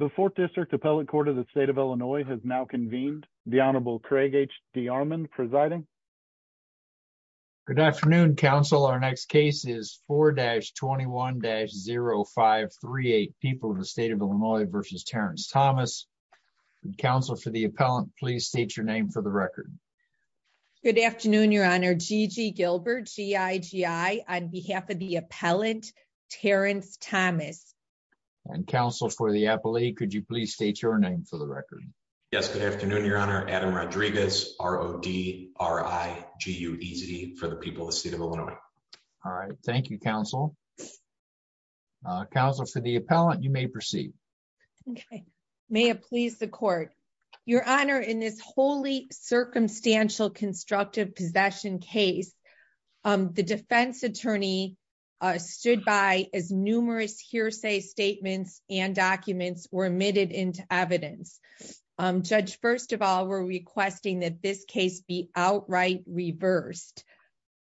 The 4th District Appellate Court of the State of Illinois has now convened. The Honorable Craig H. D'Armond presiding. Good afternoon, counsel. Our next case is 4-21-0538, People of the State of Illinois v. Terrence Thomas. Counsel for the appellant, please state your name for the record. Good afternoon, Your Honor. Gigi Gilbert, G-I-G-I, on behalf of the appellant, Terrence Thomas. And counsel for the appellate, could you please state your name for the record? Yes, good afternoon, Your Honor. Adam Rodriguez, R-O-D-R-I-G-U-E-Z, for the People of the State of Illinois. All right. Thank you, counsel. Counsel for the appellant, you may proceed. Okay. May it please the Court. Your Honor, in this wholly circumstantial constructive possession case, the defense attorney stood by as numerous hearsay statements and documents were admitted into evidence. Judge, first of all, we're requesting that this case be outright reversed.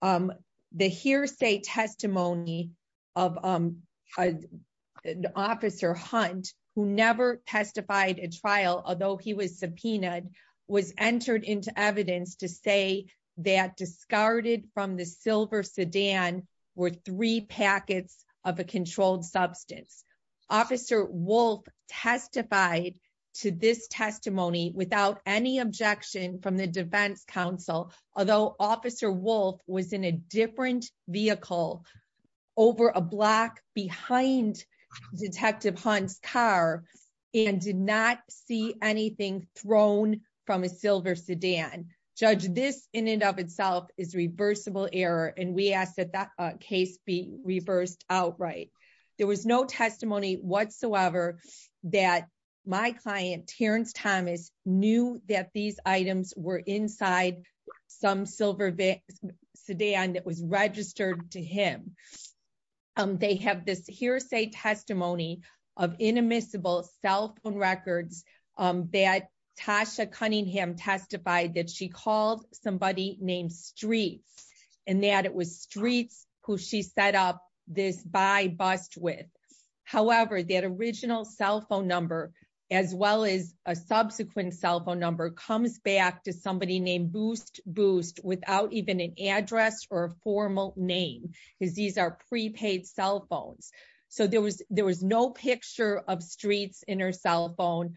The hearsay testimony of Officer Hunt, who never testified at trial, although he was discarded from the silver sedan, were three packets of a controlled substance. Officer Wolf testified to this testimony without any objection from the defense counsel, although Officer Wolf was in a different vehicle over a block behind Detective Hunt's car and did not see anything thrown from a silver sedan. Judge, this in and of itself is reversible error, and we ask that that case be reversed outright. There was no testimony whatsoever that my client, Terrence Thomas, knew that these items were inside some silver sedan that was registered to him. They have this hearsay testimony of inadmissible cell phone records that Tasha Cunningham testified that she called somebody named Streets and that it was Streets who she set up this buy-bust with. However, that original cell phone number, as well as a subsequent cell phone number, comes back to somebody named Boost Boost without even an address or a formal name, because these are prepaid cell phones. So there was no picture of Streets in her cell phone.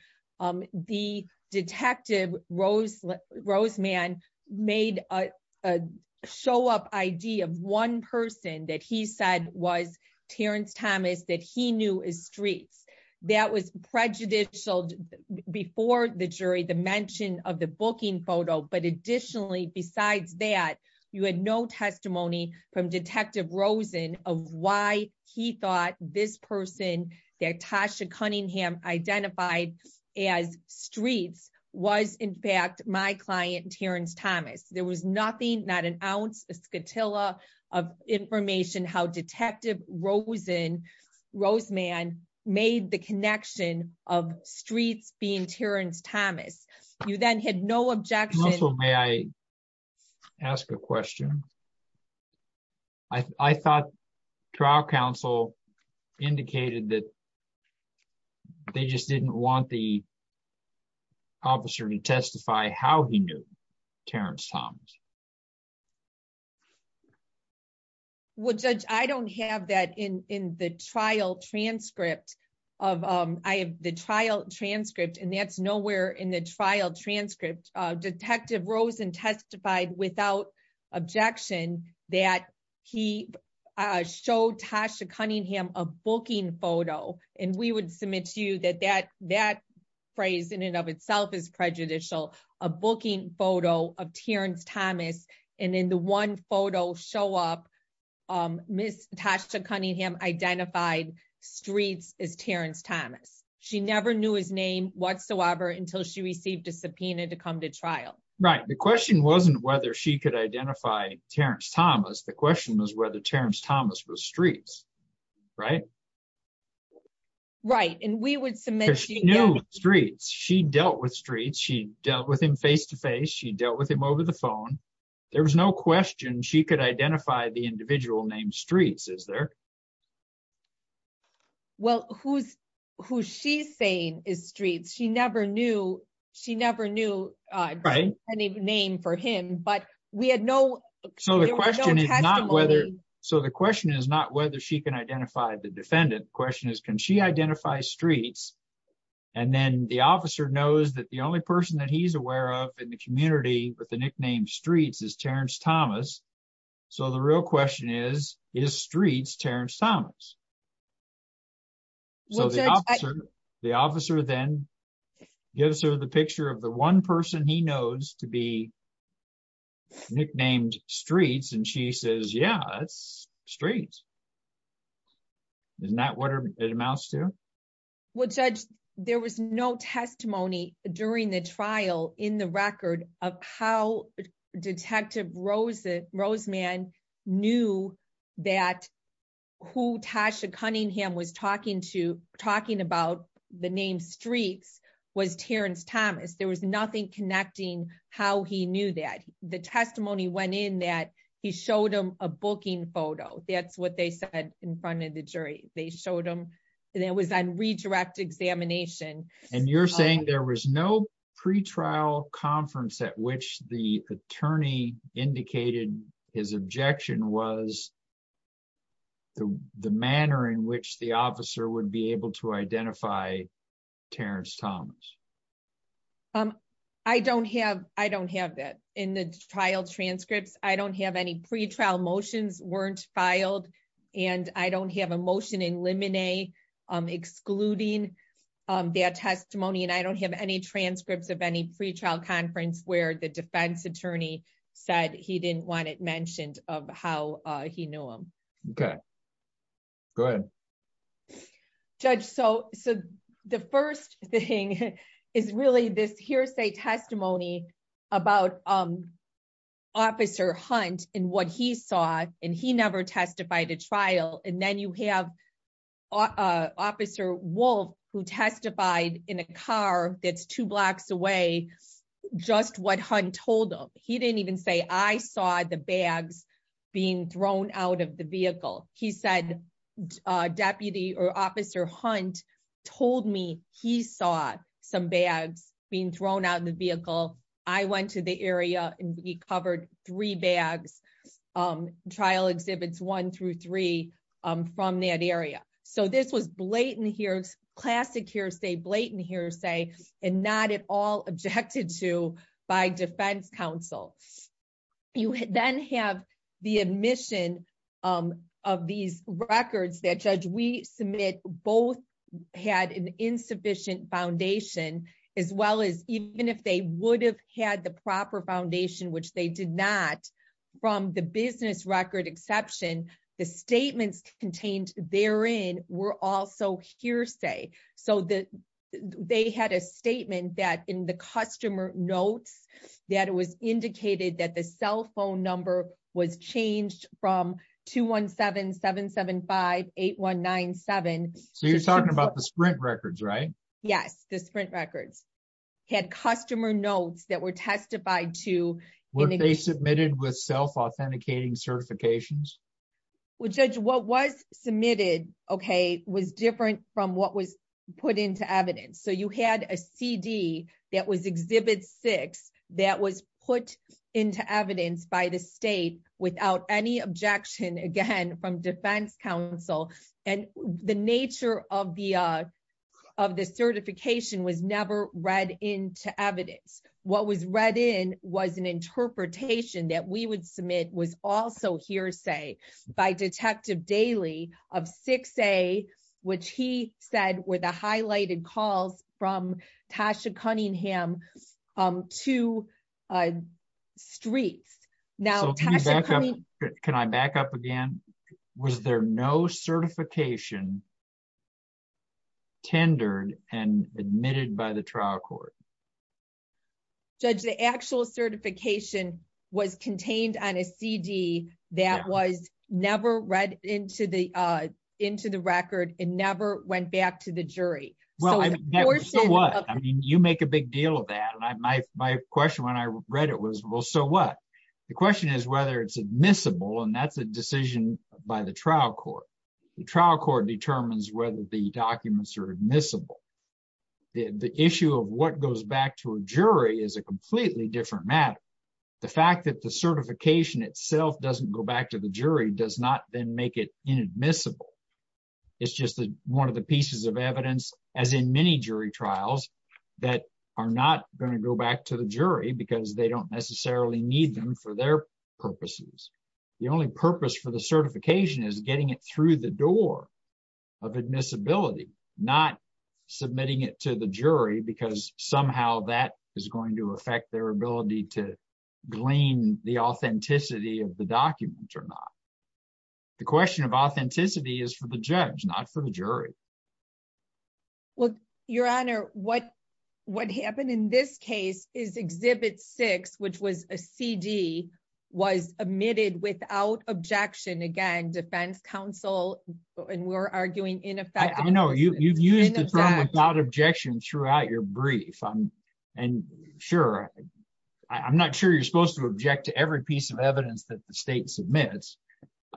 The detective, Roseman, made a show-up ID of one person that he said was Terrence Thomas that he photo. But additionally, besides that, you had no testimony from Detective Rosen of why he thought this person that Tasha Cunningham identified as Streets was, in fact, my client, Terrence Thomas. There was nothing, not an ounce, a scatilla of information how Detective Rosen, Roseman, made the connection of Streets being Terrence Thomas. You then had no objection. Also, may I ask a question? I thought trial counsel indicated that they just didn't want the officer to testify how he knew Terrence Thomas. Well, Judge, I don't have that in the trial transcript. I have the trial transcript, and that's nowhere in the trial transcript. Detective Rosen testified without objection that he showed Tasha Cunningham a booking photo, and we would submit to you that that phrase in of itself is prejudicial, a booking photo of Terrence Thomas, and in the one photo show-up, Ms. Tasha Cunningham identified Streets as Terrence Thomas. She never knew his name whatsoever until she received a subpoena to come to trial. Right. The question wasn't whether she could identify Terrence Thomas. The question was whether Terrence Thomas was Streets, right? Right, and we would submit to you- She dealt with Streets. She dealt with him face-to-face. She dealt with him over the phone. There was no question she could identify the individual named Streets, is there? Well, who she's saying is Streets, she never knew any name for him, but we had no- So the question is not whether she can identify the defendant. The question is, she identifies Streets, and then the officer knows that the only person that he's aware of in the community with the nickname Streets is Terrence Thomas, so the real question is, is Streets Terrence Thomas? So the officer then gives her the picture of the one person he knows to be nicknamed Streets, and she says, yeah, that's Streets. Isn't that what it amounts to? Well, Judge, there was no testimony during the trial in the record of how Detective Roseman knew that who Tasha Cunningham was talking about the name Streets was Terrence Thomas. There was nothing connecting how he knew that. The testimony went in that he showed him a booking photo. That's what they said in front of the jury. They showed him, and it was on redirect examination. And you're saying there was no pre-trial conference at which the attorney indicated his objection was the manner in which the officer would be able to identify Terrence Thomas. I don't have that in the trial transcripts. I don't have any pre-trial motions weren't filed, and I don't have a motion in limine excluding their testimony, and I don't have any transcripts of any pre-trial conference where the defense attorney said he didn't want it The first thing is really this hearsay testimony about Officer Hunt and what he saw, and he never testified at trial. And then you have Officer Wolf who testified in a car that's two blocks away, just what Hunt told him. He didn't even say, I saw the bags being thrown out of the vehicle. He said Deputy or Officer Hunt told me he saw some bags being thrown out of the vehicle. I went to the area and we covered three bags, trial exhibits one through three from that area. So this was blatant hearsay, classic hearsay, blatant hearsay, and not at all objected to by defense counsel. You then have the admission of these records that Judge Weiss submitted both had an insufficient foundation as well as even if they would have had the proper foundation, which they did not from the business record exception, the statements contained therein were also hearsay. So they had a statement that in the customer notes that it was indicated that the cell phone number was changed from 217-775-8197. So you're talking about the Sprint records, right? Yes, the Sprint records had customer notes that were testified to. Were they submitted with self-authenticating certifications? Well, Judge, what was submitted was different from what was put into evidence. So you had a CD that was Exhibit 6 that was put into evidence by the state without any objection, again, from defense counsel. And the nature of the certification was never read into evidence. What was read in was an interpretation that we would submit was also hearsay by Detective Daly of 6A, which he said were the highlighted calls from Tasha Cunningham to Streets. Now, can I back up again? Was there no certification tendered and admitted by the trial court? Judge, the actual certification was contained on a CD that was never read into the record and never went back to the jury. Well, so what? I mean, you make a big deal of that. And my question when I read it was, well, so what? The question is whether it's admissible, and that's a decision by the trial court. The trial court determines whether the documents are admissible. The issue of what goes back to a jury is a completely different matter. The fact that the certification itself doesn't go back to the jury does not then make it inadmissible. It's just one of the pieces of evidence, as in many jury trials, that are not going to go back to the jury because they don't necessarily need them for their purposes. The only purpose for the certification is getting it through the door of admissibility, not submitting it to the jury, because somehow that is going to affect their ability to glean the authenticity of the document or not. The question of authenticity is for the judge, not for the jury. Well, Your Honor, what happened in this case is Exhibit 6, which was a CD, was omitted without objection. Again, defense counsel, and we're arguing in effect. I know you've used the term without objection throughout your brief. And sure, I'm not sure you're supposed to object to every piece of evidence that the state submits.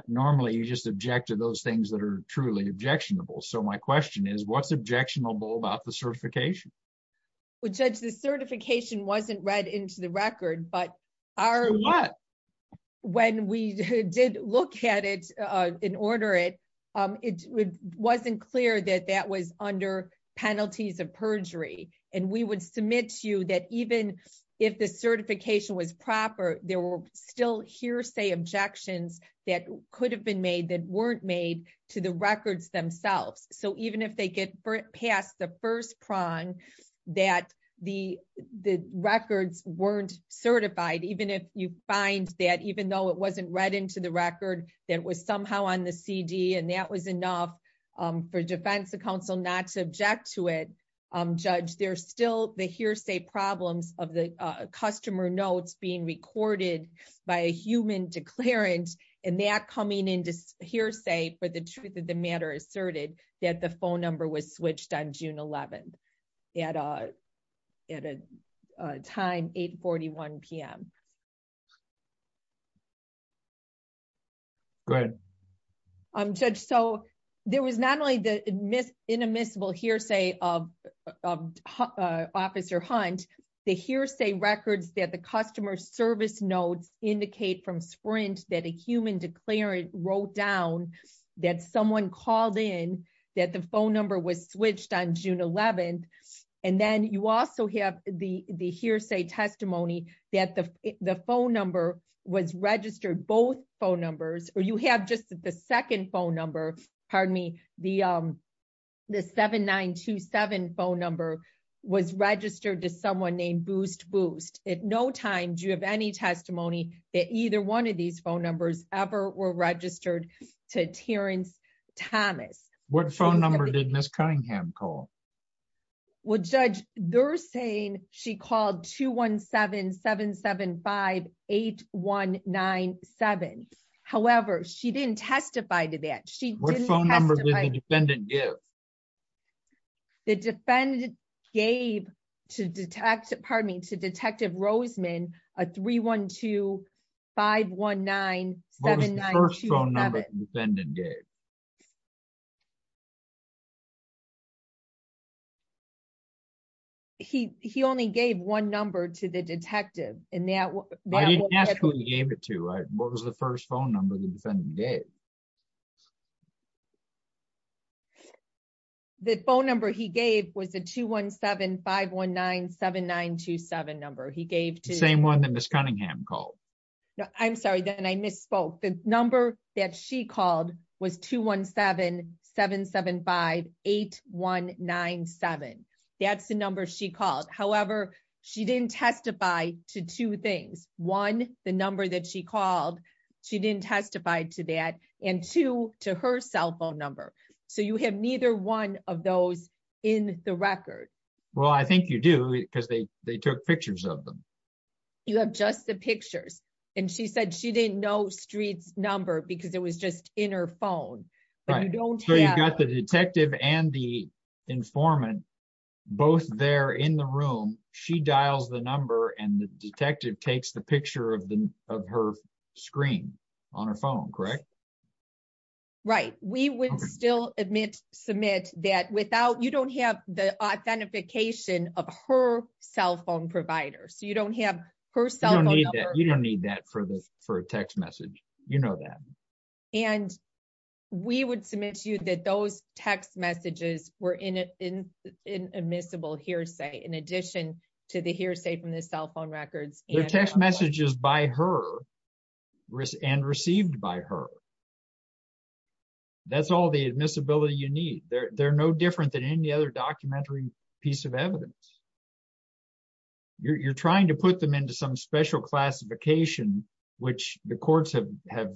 Normally, you just object to those things that are truly objectionable. So my question is, what's objectionable about the certification? Well, Judge, the certification wasn't read into record, but when we did look at it and order it, it wasn't clear that that was under penalties of perjury. And we would submit to you that even if the certification was proper, there were still hearsay objections that could have been made that weren't made to the records themselves. So even if they get past the first prong, that the records weren't certified, even if you find that even though it wasn't read into the record, that was somehow on the CD, and that was enough for defense counsel not to object to it. Judge, there's still the hearsay problems of the customer notes being recorded by a human declarant, and that coming into hearsay for the truth of the was switched on June 11th at a time, 8.41 p.m. Go ahead. Judge, so there was not only the inadmissible hearsay of Officer Hunt, the hearsay records that the customer service notes indicate from Sprint that a human declarant wrote down that someone called in, that the phone number was switched on June 11th, and then you also have the hearsay testimony that the phone number was registered, both phone numbers, or you have just the second phone number, pardon me, the 7927 phone was registered to someone named Boost Boost. At no time do you have any testimony that either one of these phone numbers ever were registered to Terrence Thomas. What phone number did Ms. Cunningham call? Well, Judge, they're saying she called 217-775-8197. However, she didn't testify to that. What phone number did the defendant give? The defendant gave to Detective Roseman a 312-519-7927. What was the first phone number the defendant gave? He only gave one number to the detective. I didn't ask who he gave it to, right? What was first phone number the defendant gave? The phone number he gave was the 217-519-7927 number. He gave to... The same one that Ms. Cunningham called. I'm sorry, then I misspoke. The number that she called was 217-775-8197. That's the number she called. However, she didn't testify to two things. One, the number that she called. She didn't testify to that. And two, to her cell phone number. So you have neither one of those in the record. Well, I think you do because they took pictures of them. You have just the pictures. And she said she didn't know Street's number because it was just in her phone. So you've got the detective and the informant both there in the room. She dials the number and the detective takes the picture of her screen on her phone, correct? Right. We would still submit that without... You don't have the authentication of her cell phone provider. So you don't have her cell phone number. You don't need that for a text message. You know that. And we would submit to you that those text messages were an admissible hearsay in addition to the hearsay from the cell phone records. The text messages by her and received by her. That's all the admissibility you need. They're no different than any other documentary piece of evidence. You're trying to put them into some special classification, which the courts have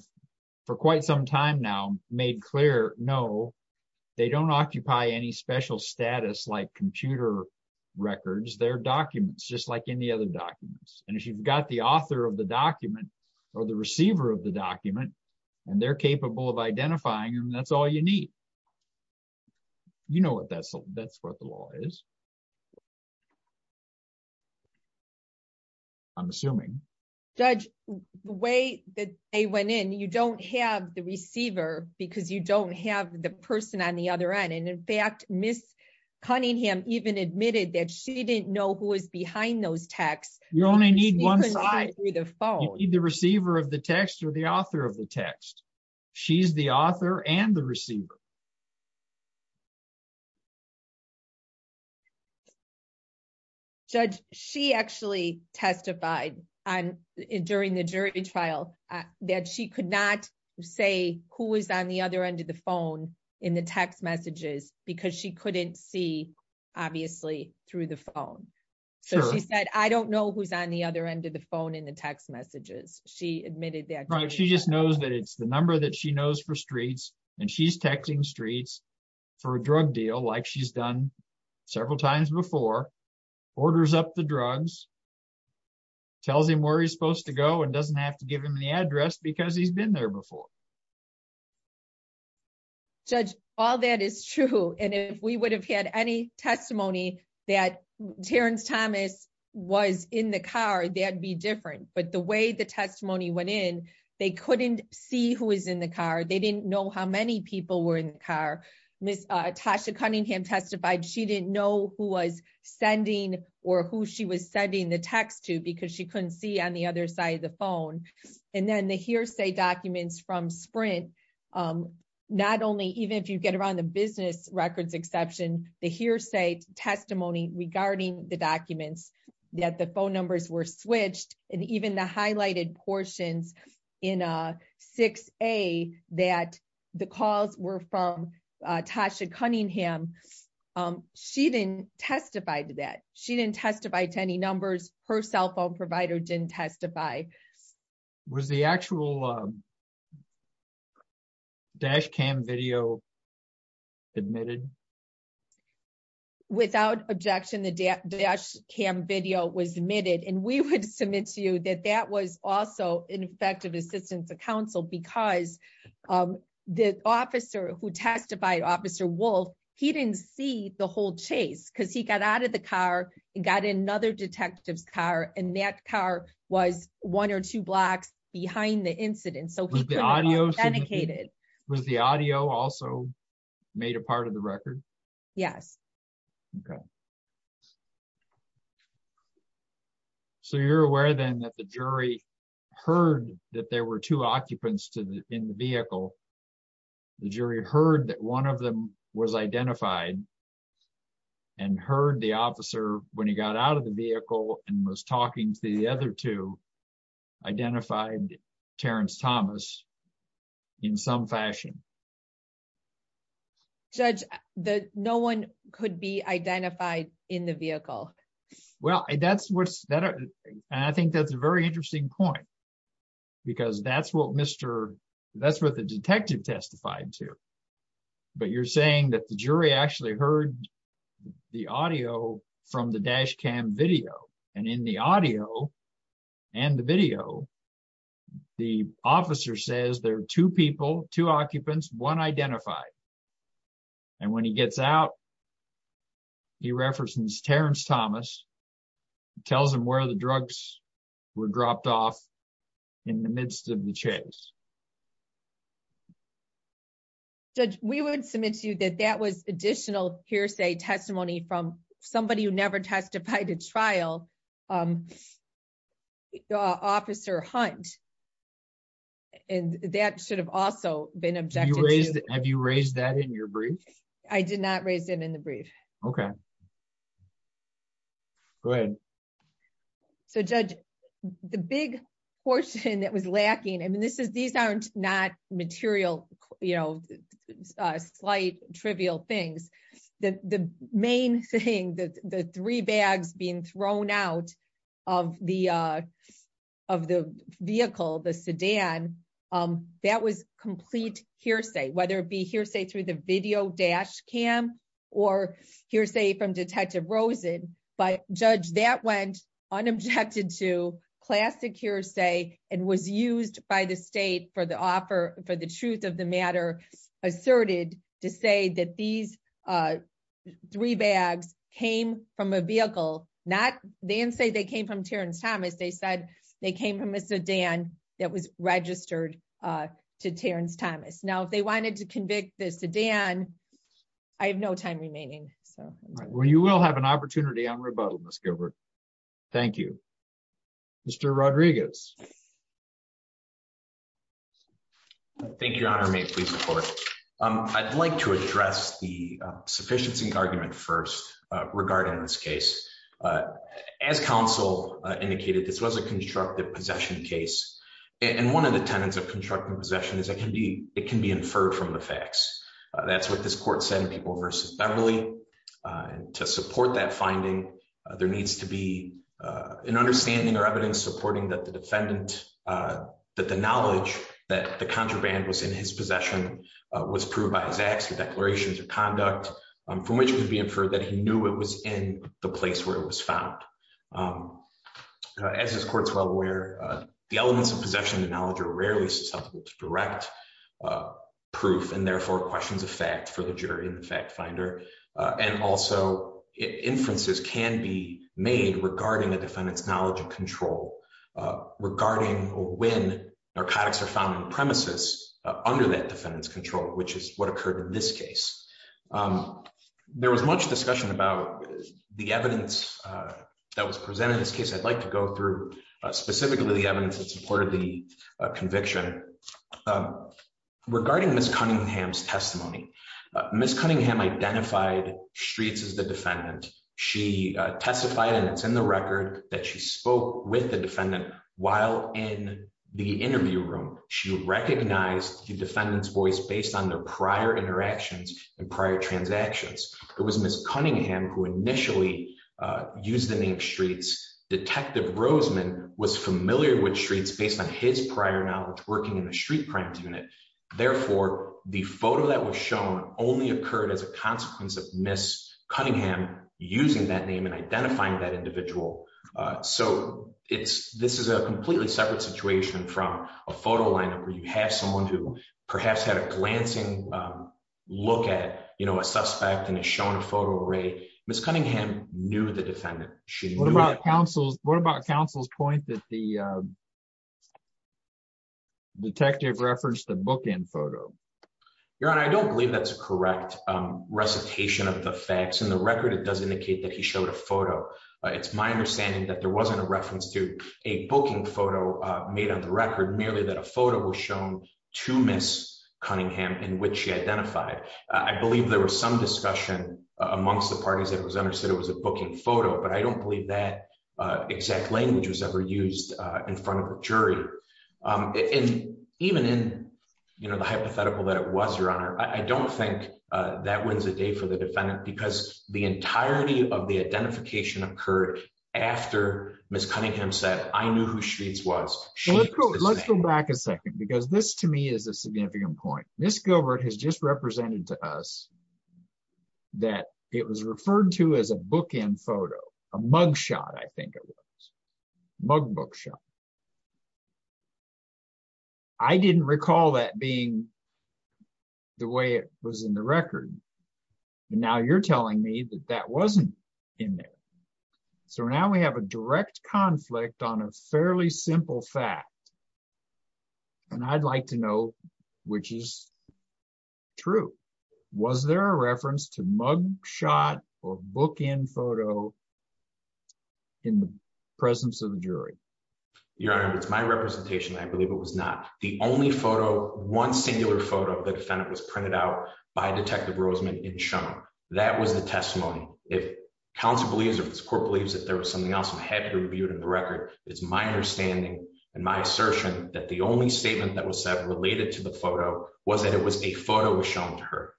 for quite some time now made clear, no, they don't occupy any special status like computer records. They're documents just like any other documents. And if you've got the author of the document or the receiver of the document and they're capable of identifying them, that's all you need. You know what that's what the law is. I'm assuming. Judge, the way that they went in, you don't have the receiver because you don't have the person on the other end. And in fact, Ms. Cunningham even admitted that she didn't know who was behind those texts. You only need one side. You need the receiver of the text or the author of the text. She's the author and the receiver. Judge, she actually testified during the jury trial that she could not say who was on the other end of the phone in the text messages because she couldn't see, obviously, through the phone. So she said, I don't know who's on the other end of the phone in the text messages. She admitted that. Right. She just knows that it's the number that she knows for streets and she's texting streets for a drug deal like she's done several times before, orders up the drugs, tells him where he's supposed to go and doesn't have to give him the address because he's been there before. Judge, all that is true. And if we would have had any testimony that Terrence Thomas was in the car, that'd be different. But the way the testimony went in, they couldn't see who was in the car. They didn't know how many people were in the car. Ms. Tasha Cunningham testified she didn't know who was sending or who she was sending the text to because she couldn't see on the other side of the from Sprint. Not only even if you get around the business records exception, the hearsay testimony regarding the documents that the phone numbers were switched and even the highlighted portions in 6A that the calls were from Tasha Cunningham. She didn't testify to that. She didn't testify to any numbers. Her cell phone provider didn't testify. Was the actual dash cam video admitted? Without objection, the dash cam video was admitted. And we would submit to you that that was also ineffective assistance to counsel because the officer who testified, Officer Wolf, he didn't see the whole chase because he got out of the car and got in another detective's car. And that car was one or two blocks behind the incident. Was the audio also made a part of the record? Yes. Okay. So you're aware then that the jury heard that there were two occupants in the vehicle. The jury heard that one of them was identified and heard the officer when he got out of the vehicle and was talking to the other two identified Terrence Thomas in some fashion. Judge, no one could be identified in the vehicle. Well, that's what's that. And I think that's a very interesting point because that's what Mr. That's what the detective testified to. But you're saying that the jury actually heard the audio from the dash cam video and in the audio and the video, the officer says there are two people, two occupants, one identified. And when he gets out, he references Terrence Thomas, tells him where the drugs were dropped off in the midst of the chase. Judge, we would submit to you that that was additional hearsay testimony from somebody who never testified to trial, Officer Hunt. And that should have also been objected. Have you raised that in your brief? I did not raise it in the brief. Okay. Go ahead. So, Judge, the big portion that was lacking, I mean, this is these aren't not material, you know, slight trivial things. The main thing that the three bags being thrown out of the vehicle, the sedan, that was complete hearsay, whether it be hearsay through the video dash cam or hearsay from Detective Rosen. But Judge, that went unobjected to classic hearsay and was used by the state for the offer for the truth of the matter, asserted to say that these three bags came from a vehicle, not then say they came from Terrence Thomas. They said they came from a sedan that was registered to Terrence Thomas. Now, if they wanted to convict the sedan, I have no time remaining. Well, you will have an opportunity on rebuttal, Ms. Gilbert. Thank you. Mr. Rodriguez. Thank you, Your Honor. May it please the Court. I'd like to address the sufficiency argument first regarding this case. As counsel indicated, this was a constructive possession case. And one of the tenets of constructive possession is it can be inferred from the facts. That's what this court said in People v. Beverly. And to support that finding, there needs to be an understanding or evidence supporting that the defendant, that the knowledge that the contraband was in his possession was proved by his acts or declarations of conduct, from which could be inferred that he knew it was in the place where it was found. As this court's well aware, the elements of possession and knowledge are rarely susceptible to direct proof and therefore questions of fact for the jury and the fact finder. And also, inferences can be made regarding a defendant's knowledge of control regarding when narcotics are found on the premises under that defendant's control, which is what occurred in this case. There was much discussion about the evidence that was presented in this case. I'd like to go through specifically the evidence that supported the conviction. Regarding Ms. Cunningham's testimony, Ms. Cunningham identified Streets as the defendant. She testified, and it's in the record, that she spoke with the defendant while in the interview room. She recognized the defendant's voice based on their prior interactions and prior transactions. It was Ms. Cunningham who initially used the name Streets. Detective Roseman was familiar with Streets based on his prior knowledge working in the street crimes unit. Therefore, the photo that was shown only occurred as a consequence of Ms. Cunningham using that name and identifying that you have someone who perhaps had a glancing look at a suspect and has shown a photo of Ray. Ms. Cunningham knew the defendant. What about counsel's point that the detective referenced the bookend photo? Your Honor, I don't believe that's a correct recitation of the facts. In the record, it does indicate that he showed a photo. It's my understanding that there wasn't a reference to a booking photo made on the record, merely that a photo was shown to Ms. Cunningham in which she identified. I believe there was some discussion amongst the parties that it was understood it was a booking photo, but I don't believe that exact language was ever used in front of a jury. Even in the hypothetical that it was, Your Honor, I don't think that wins the day for the defendant because the entirety of the case is a bookend photo. Ms. Gilbert has just represented to us that it was referred to as a bookend photo, a mug shot, I think it was. I didn't recall that being the way it was in the record. Now, you're telling me that that wasn't in there. Now, we have a direct conflict on a fairly simple fact. I'd like to know which is true. Was there a reference to mug shot or bookend photo in the presence of the jury? Your Honor, it's my representation. I believe it was not. The only photo, one singular photo of the defendant was printed out by Detective Roseman in Shum. That was the court believes that there was something else. I'm happy to review it in the record. It's my understanding and my assertion that the only statement that was said related to the photo was that it was a photo was shown to her.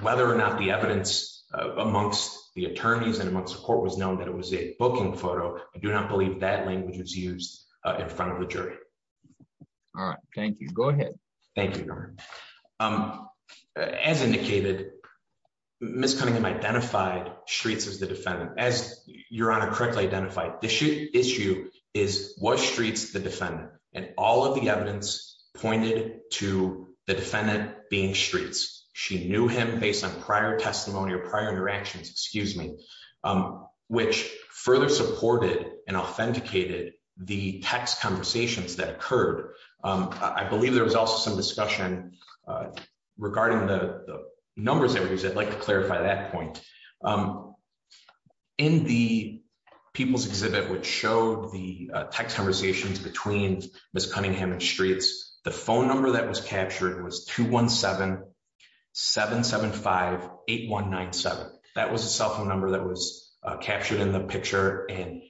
Whether or not the evidence amongst the attorneys and amongst the court was known that it was a booking photo, I do not believe that language was used in front of the jury. All right. Thank you. Go ahead. Thank you, Your Honor. As indicated, Ms. Cunningham identified Streets as the defendant. As Your Honor correctly identified, the issue is, was Streets the defendant? And all of the evidence pointed to the defendant being Streets. She knew him based on prior testimony or prior interactions, excuse me, which further supported and authenticated the text conversations that occurred. I believe there was also some discussion regarding the numbers that were used. I'd like to clarify that point. In the People's Exhibit, which showed the text conversations between Ms. Cunningham and Streets, the phone number that was captured was 217-775-8197. That was a cell phone number that was captured in the picture and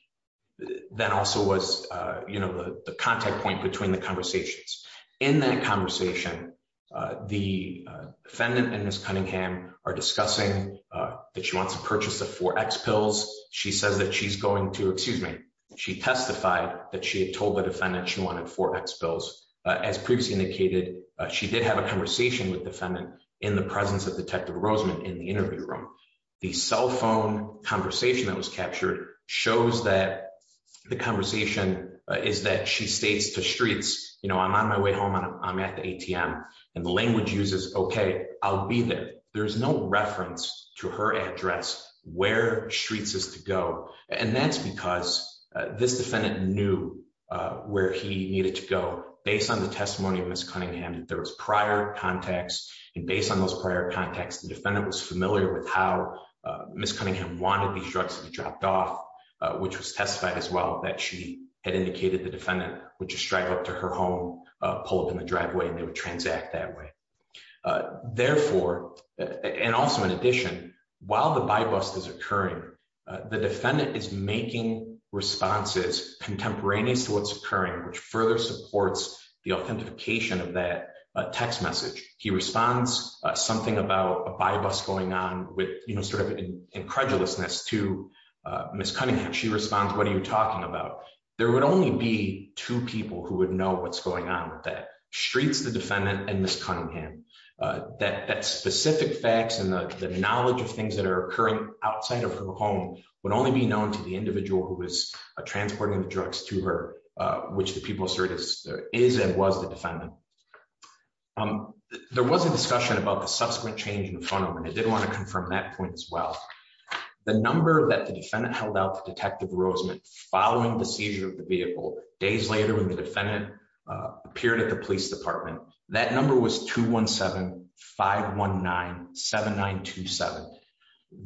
that also was the contact point between the conversations. In that conversation, the defendant and Ms. Cunningham are discussing that she wants to purchase the 4X pills. She says that she's going to, excuse me, she testified that she had told the defendant she wanted 4X pills. As previously indicated, she did have a conversation with the defendant in the presence of Detective Roseman in the interview room. The cell phone conversation that was captured shows that the conversation is that she states to Streets, you know, I'm on my way home and I'm at the ATM. And the language uses, okay, I'll be there. There's no reference to her address where Streets is to go. And that's because this defendant knew where he needed to go based on the testimony of Ms. Cunningham. There was prior contacts and based on those prior contacts, the defendant was familiar with how Ms. Cunningham wanted these drugs to be dropped off, which was testified as well that she had indicated the defendant would just drive up to her home, pull up in the driveway, and they would transact that way. Therefore, and also in addition, while the buy bust is occurring, the defendant is making responses contemporaneous to what's occurring, which further supports the authentication of that text message. He responds something about a buy bust going on with, you know, sort of incredulousness to Ms. Cunningham. She responds, what are you talking about? There would only be two people who would know what's going on with that. Streets, the defendant, and Ms. Cunningham. That specific facts and the knowledge of things that are occurring outside of her home would only be known to the individual who was transporting the drugs to her, which the people assert is and was the defendant. There was a discussion about the subsequent change in the phone number, and I did want to confirm that point as well. The number that the defendant held out to Detective Rosemont following the seizure of the vehicle, days later when the defendant appeared at the police department, that number was 217-519-7927.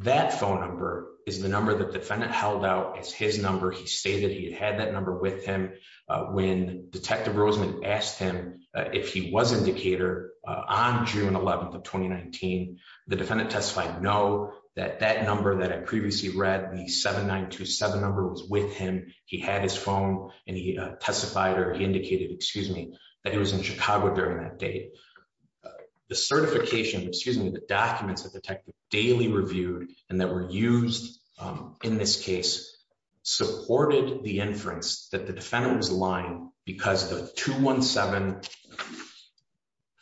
That phone number is the number that defendant held out as his number. He stated he had that number with him when Detective Rosemont asked him if he was in Decatur on June 11th of 2019. The defendant testified no, that that number that I previously read, the 7927 number, was with him. He had his phone and he testified or he indicated, excuse me, that he was in Chicago during that date. The certification, excuse me, the documents that Detective daily reviewed and that were used in this case supported the inference that the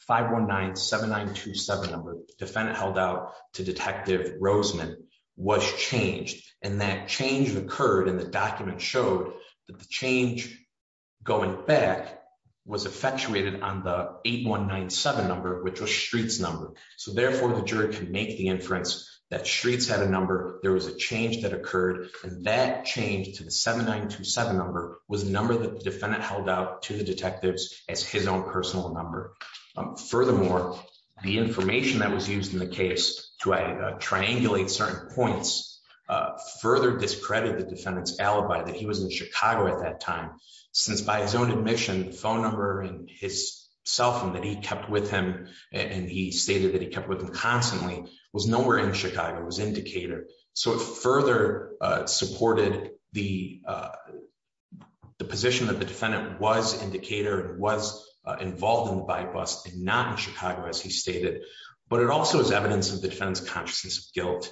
519-7927 number defendant held out to Detective Rosemont was changed. And that change occurred and the document showed that the change going back was effectuated on the 8197 number, which was Shreet's number. So therefore the jury can make the inference that Shreet's had a number, there was a change that occurred, and that change to the 7927 number was a number that the defendant held out to the detectives as his own personal number. Furthermore, the information that was used in the case to triangulate certain points further discredited the defendant's alibi that he was in Chicago at that time, since by his own admission, the phone number and his cell phone that he kept with him and he stated that he kept with him constantly was nowhere in Chicago, was in Decatur. So it further supported the position that the defendant was in Decatur and was involved in the by-bus and not in Chicago, as he stated. But it also is evidence of the defendant's consciousness of guilt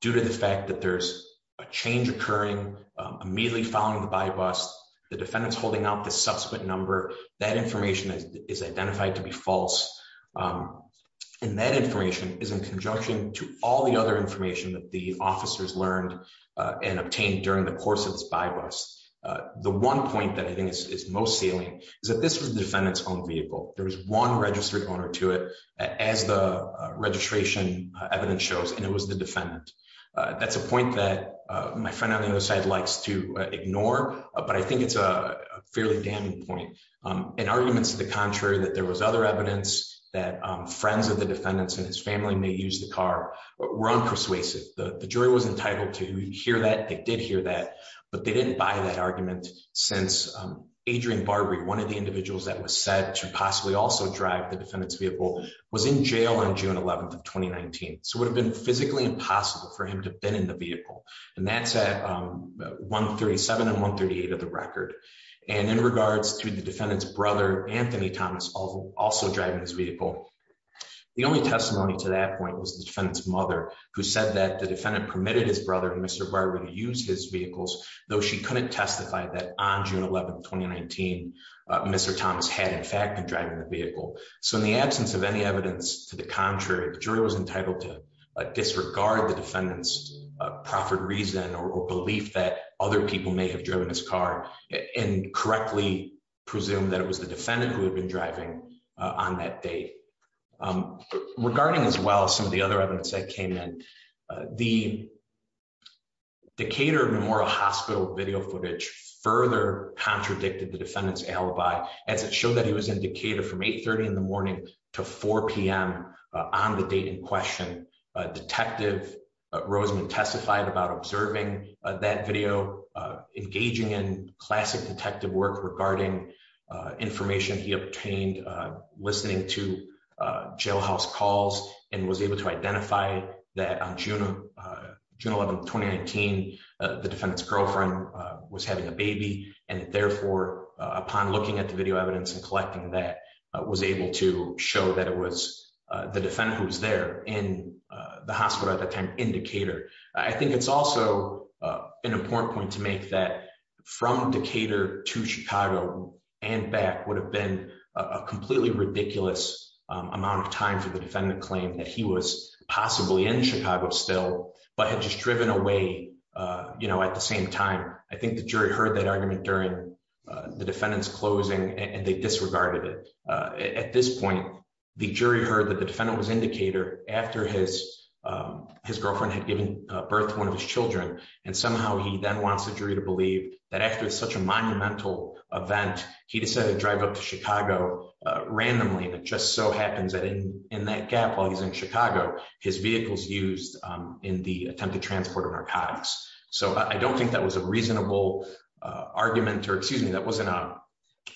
due to the fact that there's a change occurring immediately following the by-bus, the defendant's holding out the subsequent number, that information is identified to be false, and that information is in conjunction to all the other information that the officers learned and obtained during the course of this by-bus. The one point that I think is most salient is that this was the defendant's own vehicle. There was one registered owner to it as the registration evidence shows, and it was the defendant. That's a point that my friend on contrary, that there was other evidence that friends of the defendant's and his family may use the car, were unpersuasive. The jury was entitled to hear that, they did hear that, but they didn't buy that argument since Adrian Barbary, one of the individuals that was said to possibly also drive the defendant's vehicle, was in jail on June 11th of 2019. So it would have been physically impossible for him to have been in the vehicle. And that's at 137 and 138 of the also driving his vehicle. The only testimony to that point was the defendant's mother, who said that the defendant permitted his brother, Mr. Barbary, to use his vehicles, though she couldn't testify that on June 11th, 2019, Mr. Thomas had in fact been driving the vehicle. So in the absence of any evidence to the contrary, the jury was entitled to disregard the defendant's proffered reason or belief that other people may have driven his car and correctly presume that it was the defendant who had been driving on that day. Regarding as well as some of the other evidence that came in, the Decatur Memorial Hospital video footage further contradicted the defendant's alibi, as it showed that he was in Decatur from 830 in the morning to 4pm on the date in question. Detective Roseman testified about observing that video, engaging in classic detective work regarding information he obtained listening to jailhouse calls, and was able to identify that on June 11th, 2019, the defendant's girlfriend was having a baby. And therefore, upon looking at the video evidence and collecting that was able to show that it was the defendant who was there in the hospital at the time in Decatur. I think it's also an important point to make that from Decatur to Chicago and back would have been a completely ridiculous amount of time for the defendant claim that he was possibly in Chicago still, but had just driven away. You know, at the same time, I think the jury heard that argument during the defendant's closing and they disregarded it. At this point, the jury heard that the defendant was in Decatur after his girlfriend had given birth to one of his children. And somehow he then wants the jury to believe that after such a monumental event, he decided to drive up to Chicago randomly. And it just so happens that in that gap while he's in Chicago, his vehicle's used in the attempted transport of narcotics. So I don't think that was a reasonable argument or excuse me, that wasn't a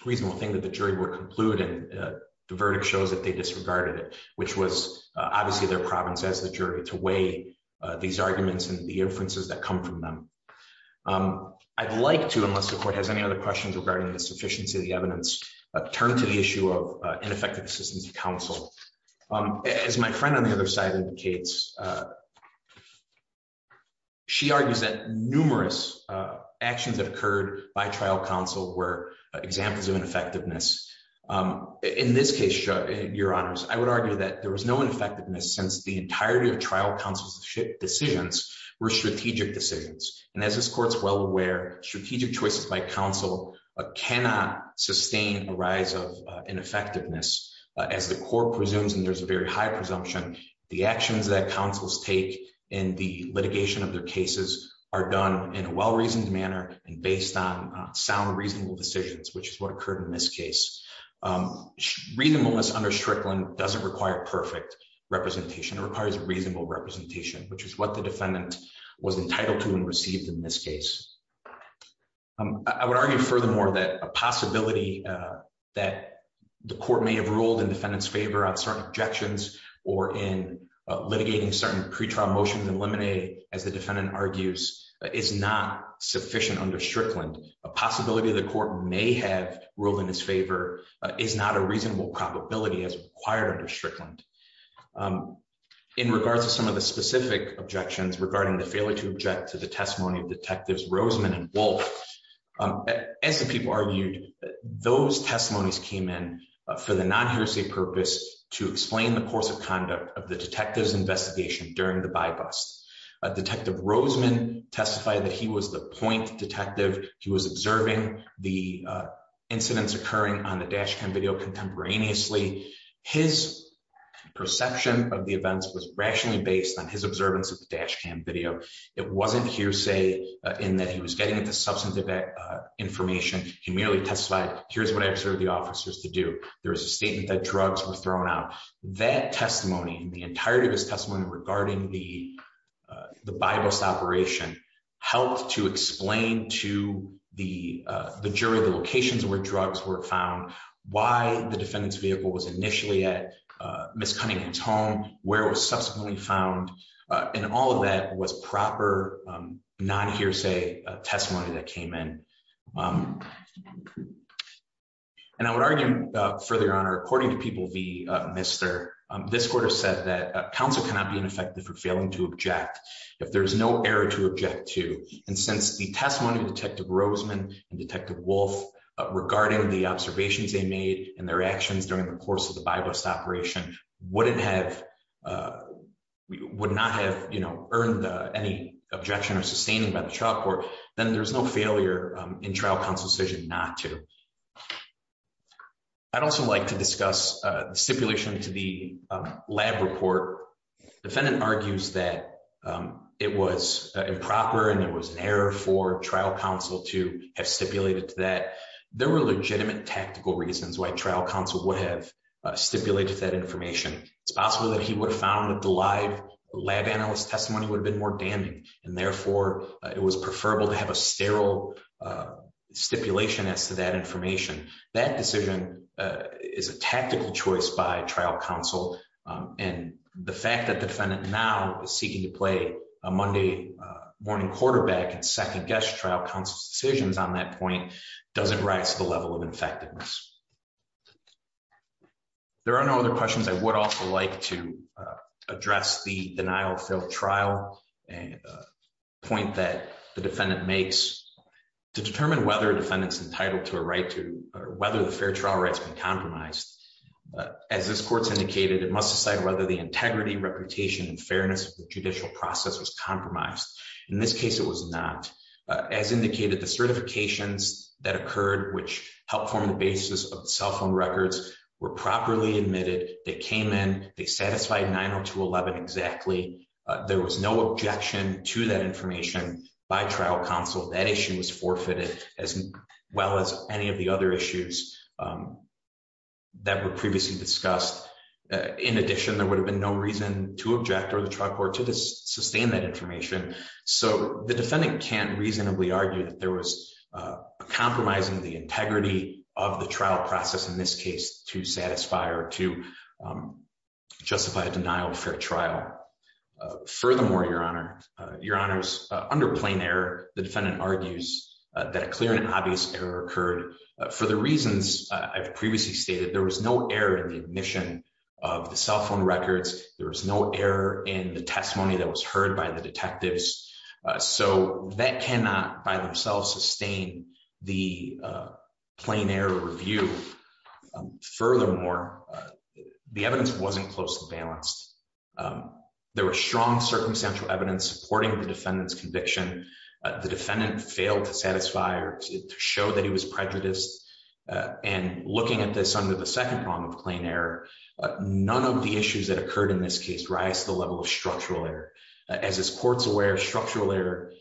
reasonable thing that the jury would conclude. And the verdict shows that they disregarded it, which was obviously their province as the jury to weigh these arguments and the inferences that come from them. I'd like to, unless the court has any other questions regarding the sufficiency of the evidence, turn to the issue of ineffective assistance to counsel. As my friend on the other side indicates, she argues that numerous actions that occurred by trial counsel were examples of ineffectiveness. In this case, your honors, I would argue that there was no ineffectiveness since the entirety of trial counsel's decisions were strategic decisions. And as this court's well aware, strategic choices by counsel cannot sustain a rise of ineffectiveness. As the court presumes, and there's a very high presumption, the actions that counsels take in the litigation of their cases are done in a well-reasoned manner and on sound, reasonable decisions, which is what occurred in this case. Reasonableness under Strickland doesn't require perfect representation. It requires reasonable representation, which is what the defendant was entitled to and received in this case. I would argue furthermore that a possibility that the court may have ruled in defendant's favor on certain objections or in litigating certain pretrial motions and eliminate, as the defendant argues, is not sufficient under Strickland. A possibility the court may have ruled in his favor is not a reasonable probability as required under Strickland. In regards to some of the specific objections regarding the failure to object to the testimony of Detectives Roseman and Wolf, as the people argued, those testimonies came in for the non-heresy purpose to explain the course of conduct of the detective's investigation during the bybus. Detective Roseman testified that he was the point detective. He was observing the incidents occurring on the dash cam video contemporaneously. His perception of the events was rationally based on his observance of the dash cam video. It wasn't hearsay in that he was getting into substantive information. He merely testified, here's what I've served the officers to do. There was a statement that drugs were thrown out. That testimony, the entirety of his the bybus operation, helped to explain to the jury the locations where drugs were found, why the defendant's vehicle was initially at Ms. Cunningham's home, where it was subsequently found, and all of that was proper non-hearsay testimony that came in. And I would argue further, Your Honor, according to people of the this court has said that counsel cannot be ineffective for failing to object if there is no error to object to. And since the testimony of Detective Roseman and Detective Wolf regarding the observations they made and their actions during the course of the bybus operation would not have earned any objection or sustaining by the trial court, then there's no failure in trial counsel's decision not to. I'd also like to discuss the stipulation to the lab report. The defendant argues that it was improper and it was an error for trial counsel to have stipulated that. There were legitimate tactical reasons why trial counsel would have stipulated that information. It's possible that he would have found that the live lab analyst testimony would have been more damning and therefore it was preferable to have a sterile stipulation as to that information. That decision is a tactical choice by trial counsel and the fact that the defendant now is seeking to play a Monday morning quarterback and second-guess trial counsel's decisions on that point doesn't rise to the level of effectiveness. There are no other questions. I would also like to address the denial of failed trial point that the defendant makes to determine whether a defendant's entitled to a right to or whether the fair trial rights been compromised. As this court's indicated, it must decide whether the integrity, reputation, and fairness of the judicial process was compromised. In this case, it was not. As indicated, the certifications that occurred which helped form the basis of the cell phone records were properly admitted. They came in. They satisfied 90211 exactly. There was no objection to that information by trial counsel. That issue was forfeited as well as any of the other issues that were previously discussed. In addition, there would have been no reason to object or the trial court to sustain that information. The defendant can't reasonably argue that there was compromising the integrity of the trial process in this case to satisfy or to furthermore, your honor, your honors, under plain air, the defendant argues that a clear and obvious error occurred. For the reasons I've previously stated, there was no error in the admission of the cell phone records. There was no error in the testimony that was heard by the detectives. So that cannot by themselves sustain the plain air review. Furthermore, the evidence wasn't closely balanced. There was strong circumstantial evidence supporting the defendant's conviction. The defendant failed to satisfy or to show that he was prejudiced. And looking at this under the second prong of plain air, none of the issues that occurred in this case rise to the level of structural error. As this court's aware, structural error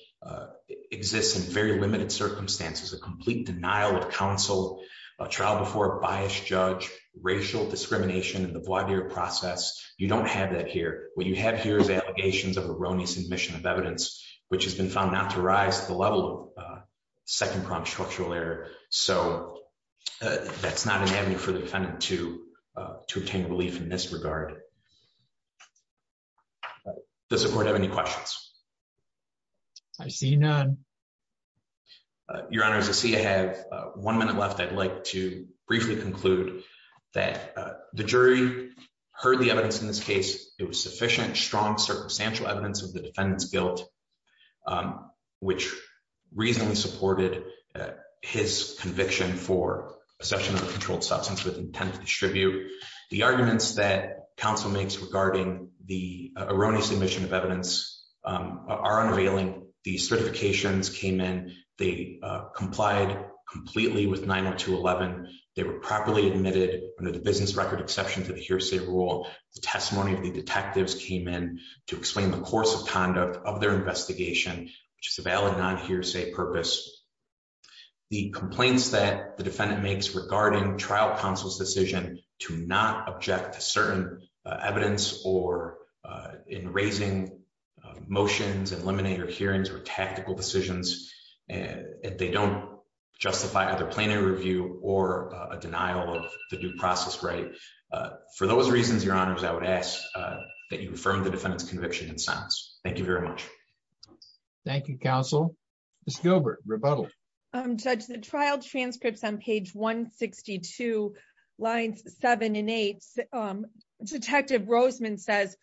exists in very limited circumstances. A complete denial of counsel, a trial before a biased judge, racial discrimination in the bloodier process, you don't have that here. What you have here is allegations of erroneous admission of evidence, which has been found not to rise to the level of second prong structural error. So that's not an avenue for the defendant to obtain relief in this regard. Does the court have any questions? I see none. Your Honor, I see I have one minute left. I'd like to briefly conclude that the jury heard the evidence in this case. It was sufficient, strong, circumstantial evidence of the defendant's guilt, which reasonably supported his conviction for possession of a controlled substance with intent to distribute. The arguments that counsel makes regarding the erroneous admission of They complied completely with 902.11. They were properly admitted under the business record exception to the hearsay rule. The testimony of the detectives came in to explain the course of conduct of their investigation, which is a valid non-hearsay purpose. The complaints that the defendant makes regarding trial counsel's decision to not object to certain evidence or in raising motions, eliminating your hearings or tactical decisions, and they don't justify either plenary review or a denial of the due process right. For those reasons, Your Honor, I would ask that you affirm the defendant's conviction in silence. Thank you very much. Thank you, counsel. Ms. Gilbert, rebuttal. Judge, the trial transcripts on page 162, lines seven and eight, Detective Roseman says,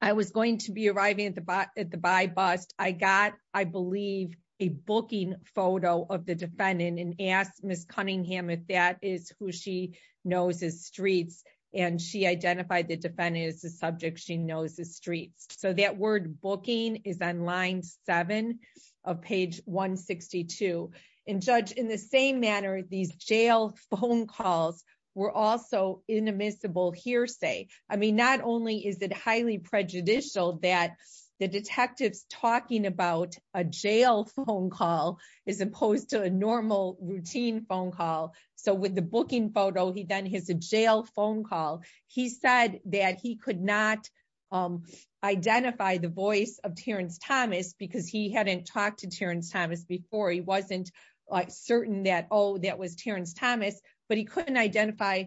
I was going to be arriving at the by bus. I got, I believe, a booking photo of the defendant and asked Ms. Cunningham if that is who she knows as Streets and she identified the defendant as subject she knows as Streets. So that word booking is on line seven of page 162. And judge, in the same manner, these jail phone calls were also inadmissible hearsay. I mean, not only is it highly prejudicial that the detectives talking about a jail phone call as opposed to a normal routine phone call. So with the booking photo, he then has a jail phone call. He said that he could not identify the voice of Terrence Thomas because he hadn't talked to Terrence Thomas before he wasn't certain that Oh, that was Terrence Thomas, but he couldn't identify.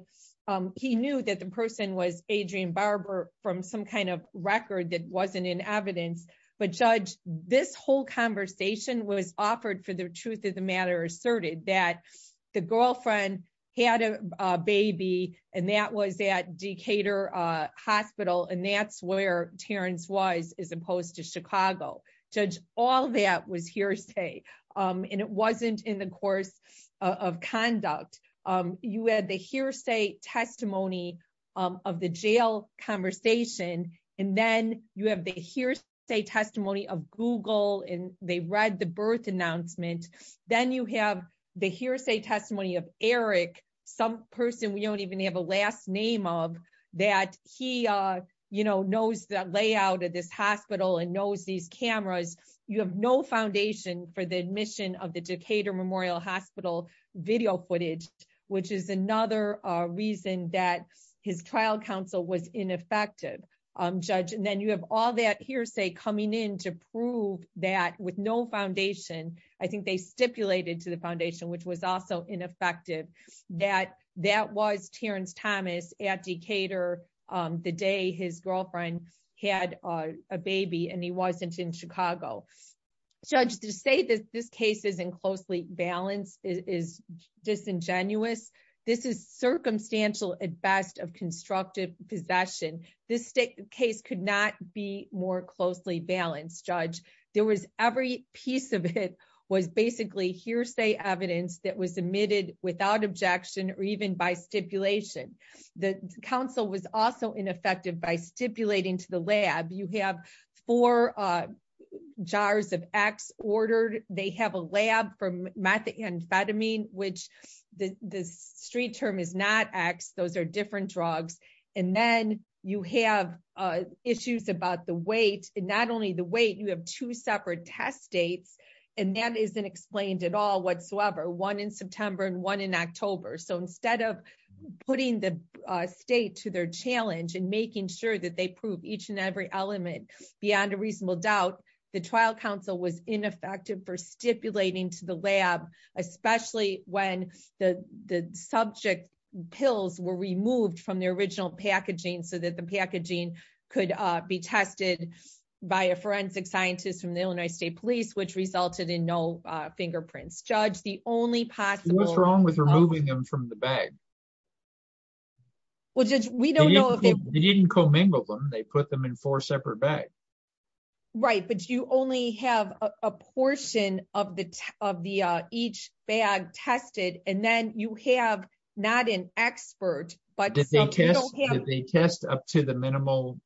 He knew that the person was Adrian Barber from some kind of record that wasn't in evidence. But judge, this whole conversation was offered for the truth of the matter asserted that the girlfriend had a baby and that was that Decatur hospital and that's where Terrence was as opposed to Chicago. Judge, all that was hearsay. And it wasn't in the course of conduct. You had the hearsay testimony of the jail conversation. And then you have the hearsay testimony of Google and they read the birth announcement. Then you have the hearsay testimony of Eric, some person we don't even have a last name of that he, you know, knows the layout of this hospital and knows these cameras. You have no foundation for the admission of the Decatur Memorial Hospital video footage, which is another reason that his trial counsel was ineffective. Judge, and then you have all that hearsay coming in to prove that with no foundation, I think they stipulated to the foundation, which was also ineffective, that that was Terrence Thomas at Decatur the day his girlfriend had a baby and he wasn't in Chicago. Judge to say that this case isn't closely balanced is disingenuous. This is circumstantial at best of constructive possession. This case could not be more closely balanced. Judge, there was every piece of it was basically hearsay evidence that was admitted without objection or even by stipulation. The counsel was also ineffective by stipulating to the lab. You have four jars of X ordered. They have a lab for methamphetamine, which the street term is not X. Those are different drugs. And then you have issues about the weight and not only the weight, you have two separate test dates, and that isn't explained at all whatsoever, one in September and one in October. So instead of putting the state to their challenge and making sure that they prove each and every element beyond a reasonable doubt, the trial counsel was ineffective for stipulating to the lab, especially when the subject pills were removed from the original packaging so that the packaging could be tested by a forensic scientist from the Illinois State Police, which resulted in no fingerprints. Judge, the only possible... What's wrong with removing them from the bag? Well, Judge, we don't know if they... They didn't commingle them. They put them in four separate bags. Right, but you only have a portion of each bag tested, and then you have not an expert, but... Did they test up to the minimal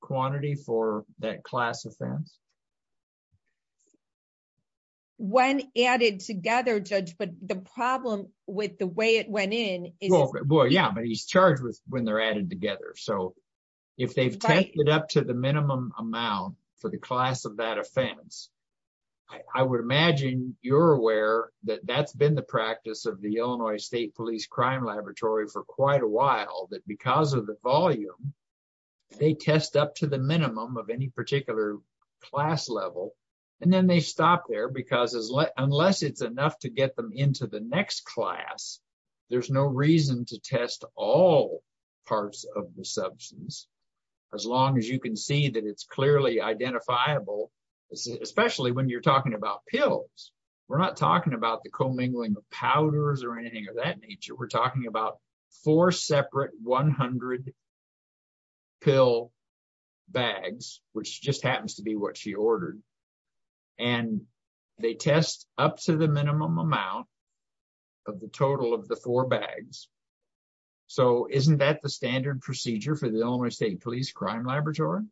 quantity for that class offense? When added together, Judge, but the problem with the way it went in is... Well, yeah, but he's charged with when they're added together. So if they've tested up to the minimum amount for the class of that offense, I would imagine you're aware that that's been the practice of the Illinois State Police Crime Laboratory for quite a while, that because of volume, they test up to the minimum of any particular class level, and then they stop there because unless it's enough to get them into the next class, there's no reason to test all parts of the substance, as long as you can see that it's clearly identifiable, especially when you're talking about pills. We're not talking about the commingling of powders or 100 pill bags, which just happens to be what she ordered, and they test up to the minimum amount of the total of the four bags. So isn't that the standard procedure for the Illinois State Police Crime Laboratory?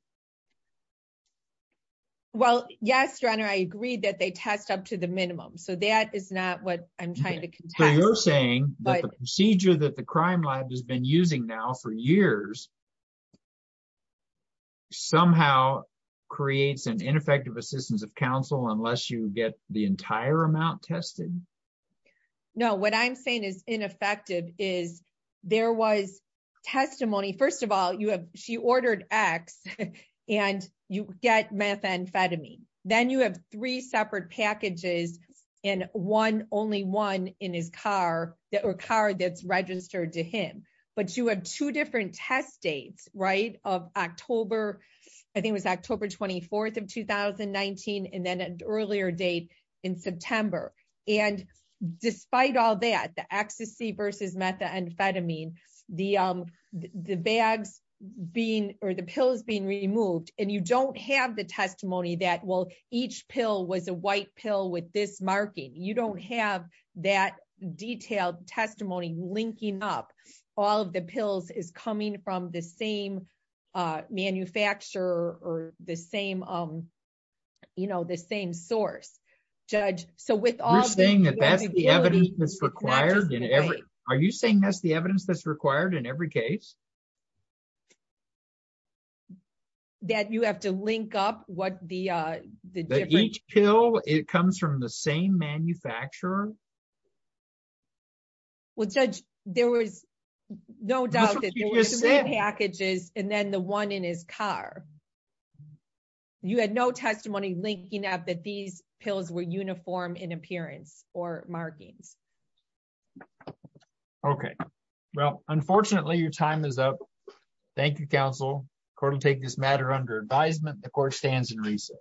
Well, yes, Your Honor, I agree that they test up to the minimum. So that is not what I'm trying to contest. So you're saying that the procedure that the Crime Lab has been using now for years somehow creates an ineffective assistance of counsel unless you get the entire amount tested? No, what I'm saying is ineffective is there was testimony. First of all, she ordered X and you get methamphetamine. Then you have three separate packages, and only one in his car or car that's registered to him. But you have two different test dates, right, of October. I think it was October 24th of 2019, and then an earlier date in September. And despite all that, the ecstasy versus methamphetamine, the bags being or the pills being removed, and you don't have the testimony that, well, each pill was a white pill with this marking. You don't have that detailed testimony linking up. All of the pills is coming from the same manufacturer or the same, you know, the same source. Judge, so with all... You're saying that that's the evidence that's required? Are you saying that's the evidence that's required in every case? That you have to link up what the... That each pill, it comes from the same manufacturer? Well, Judge, there was no doubt that there were packages, and then the one in his car. You had no testimony linking up that these pills were uniform in appearance or markings. Okay. Well, unfortunately, your time is up. Thank you, counsel. Court will take this matter under advisement. The court stands in reason.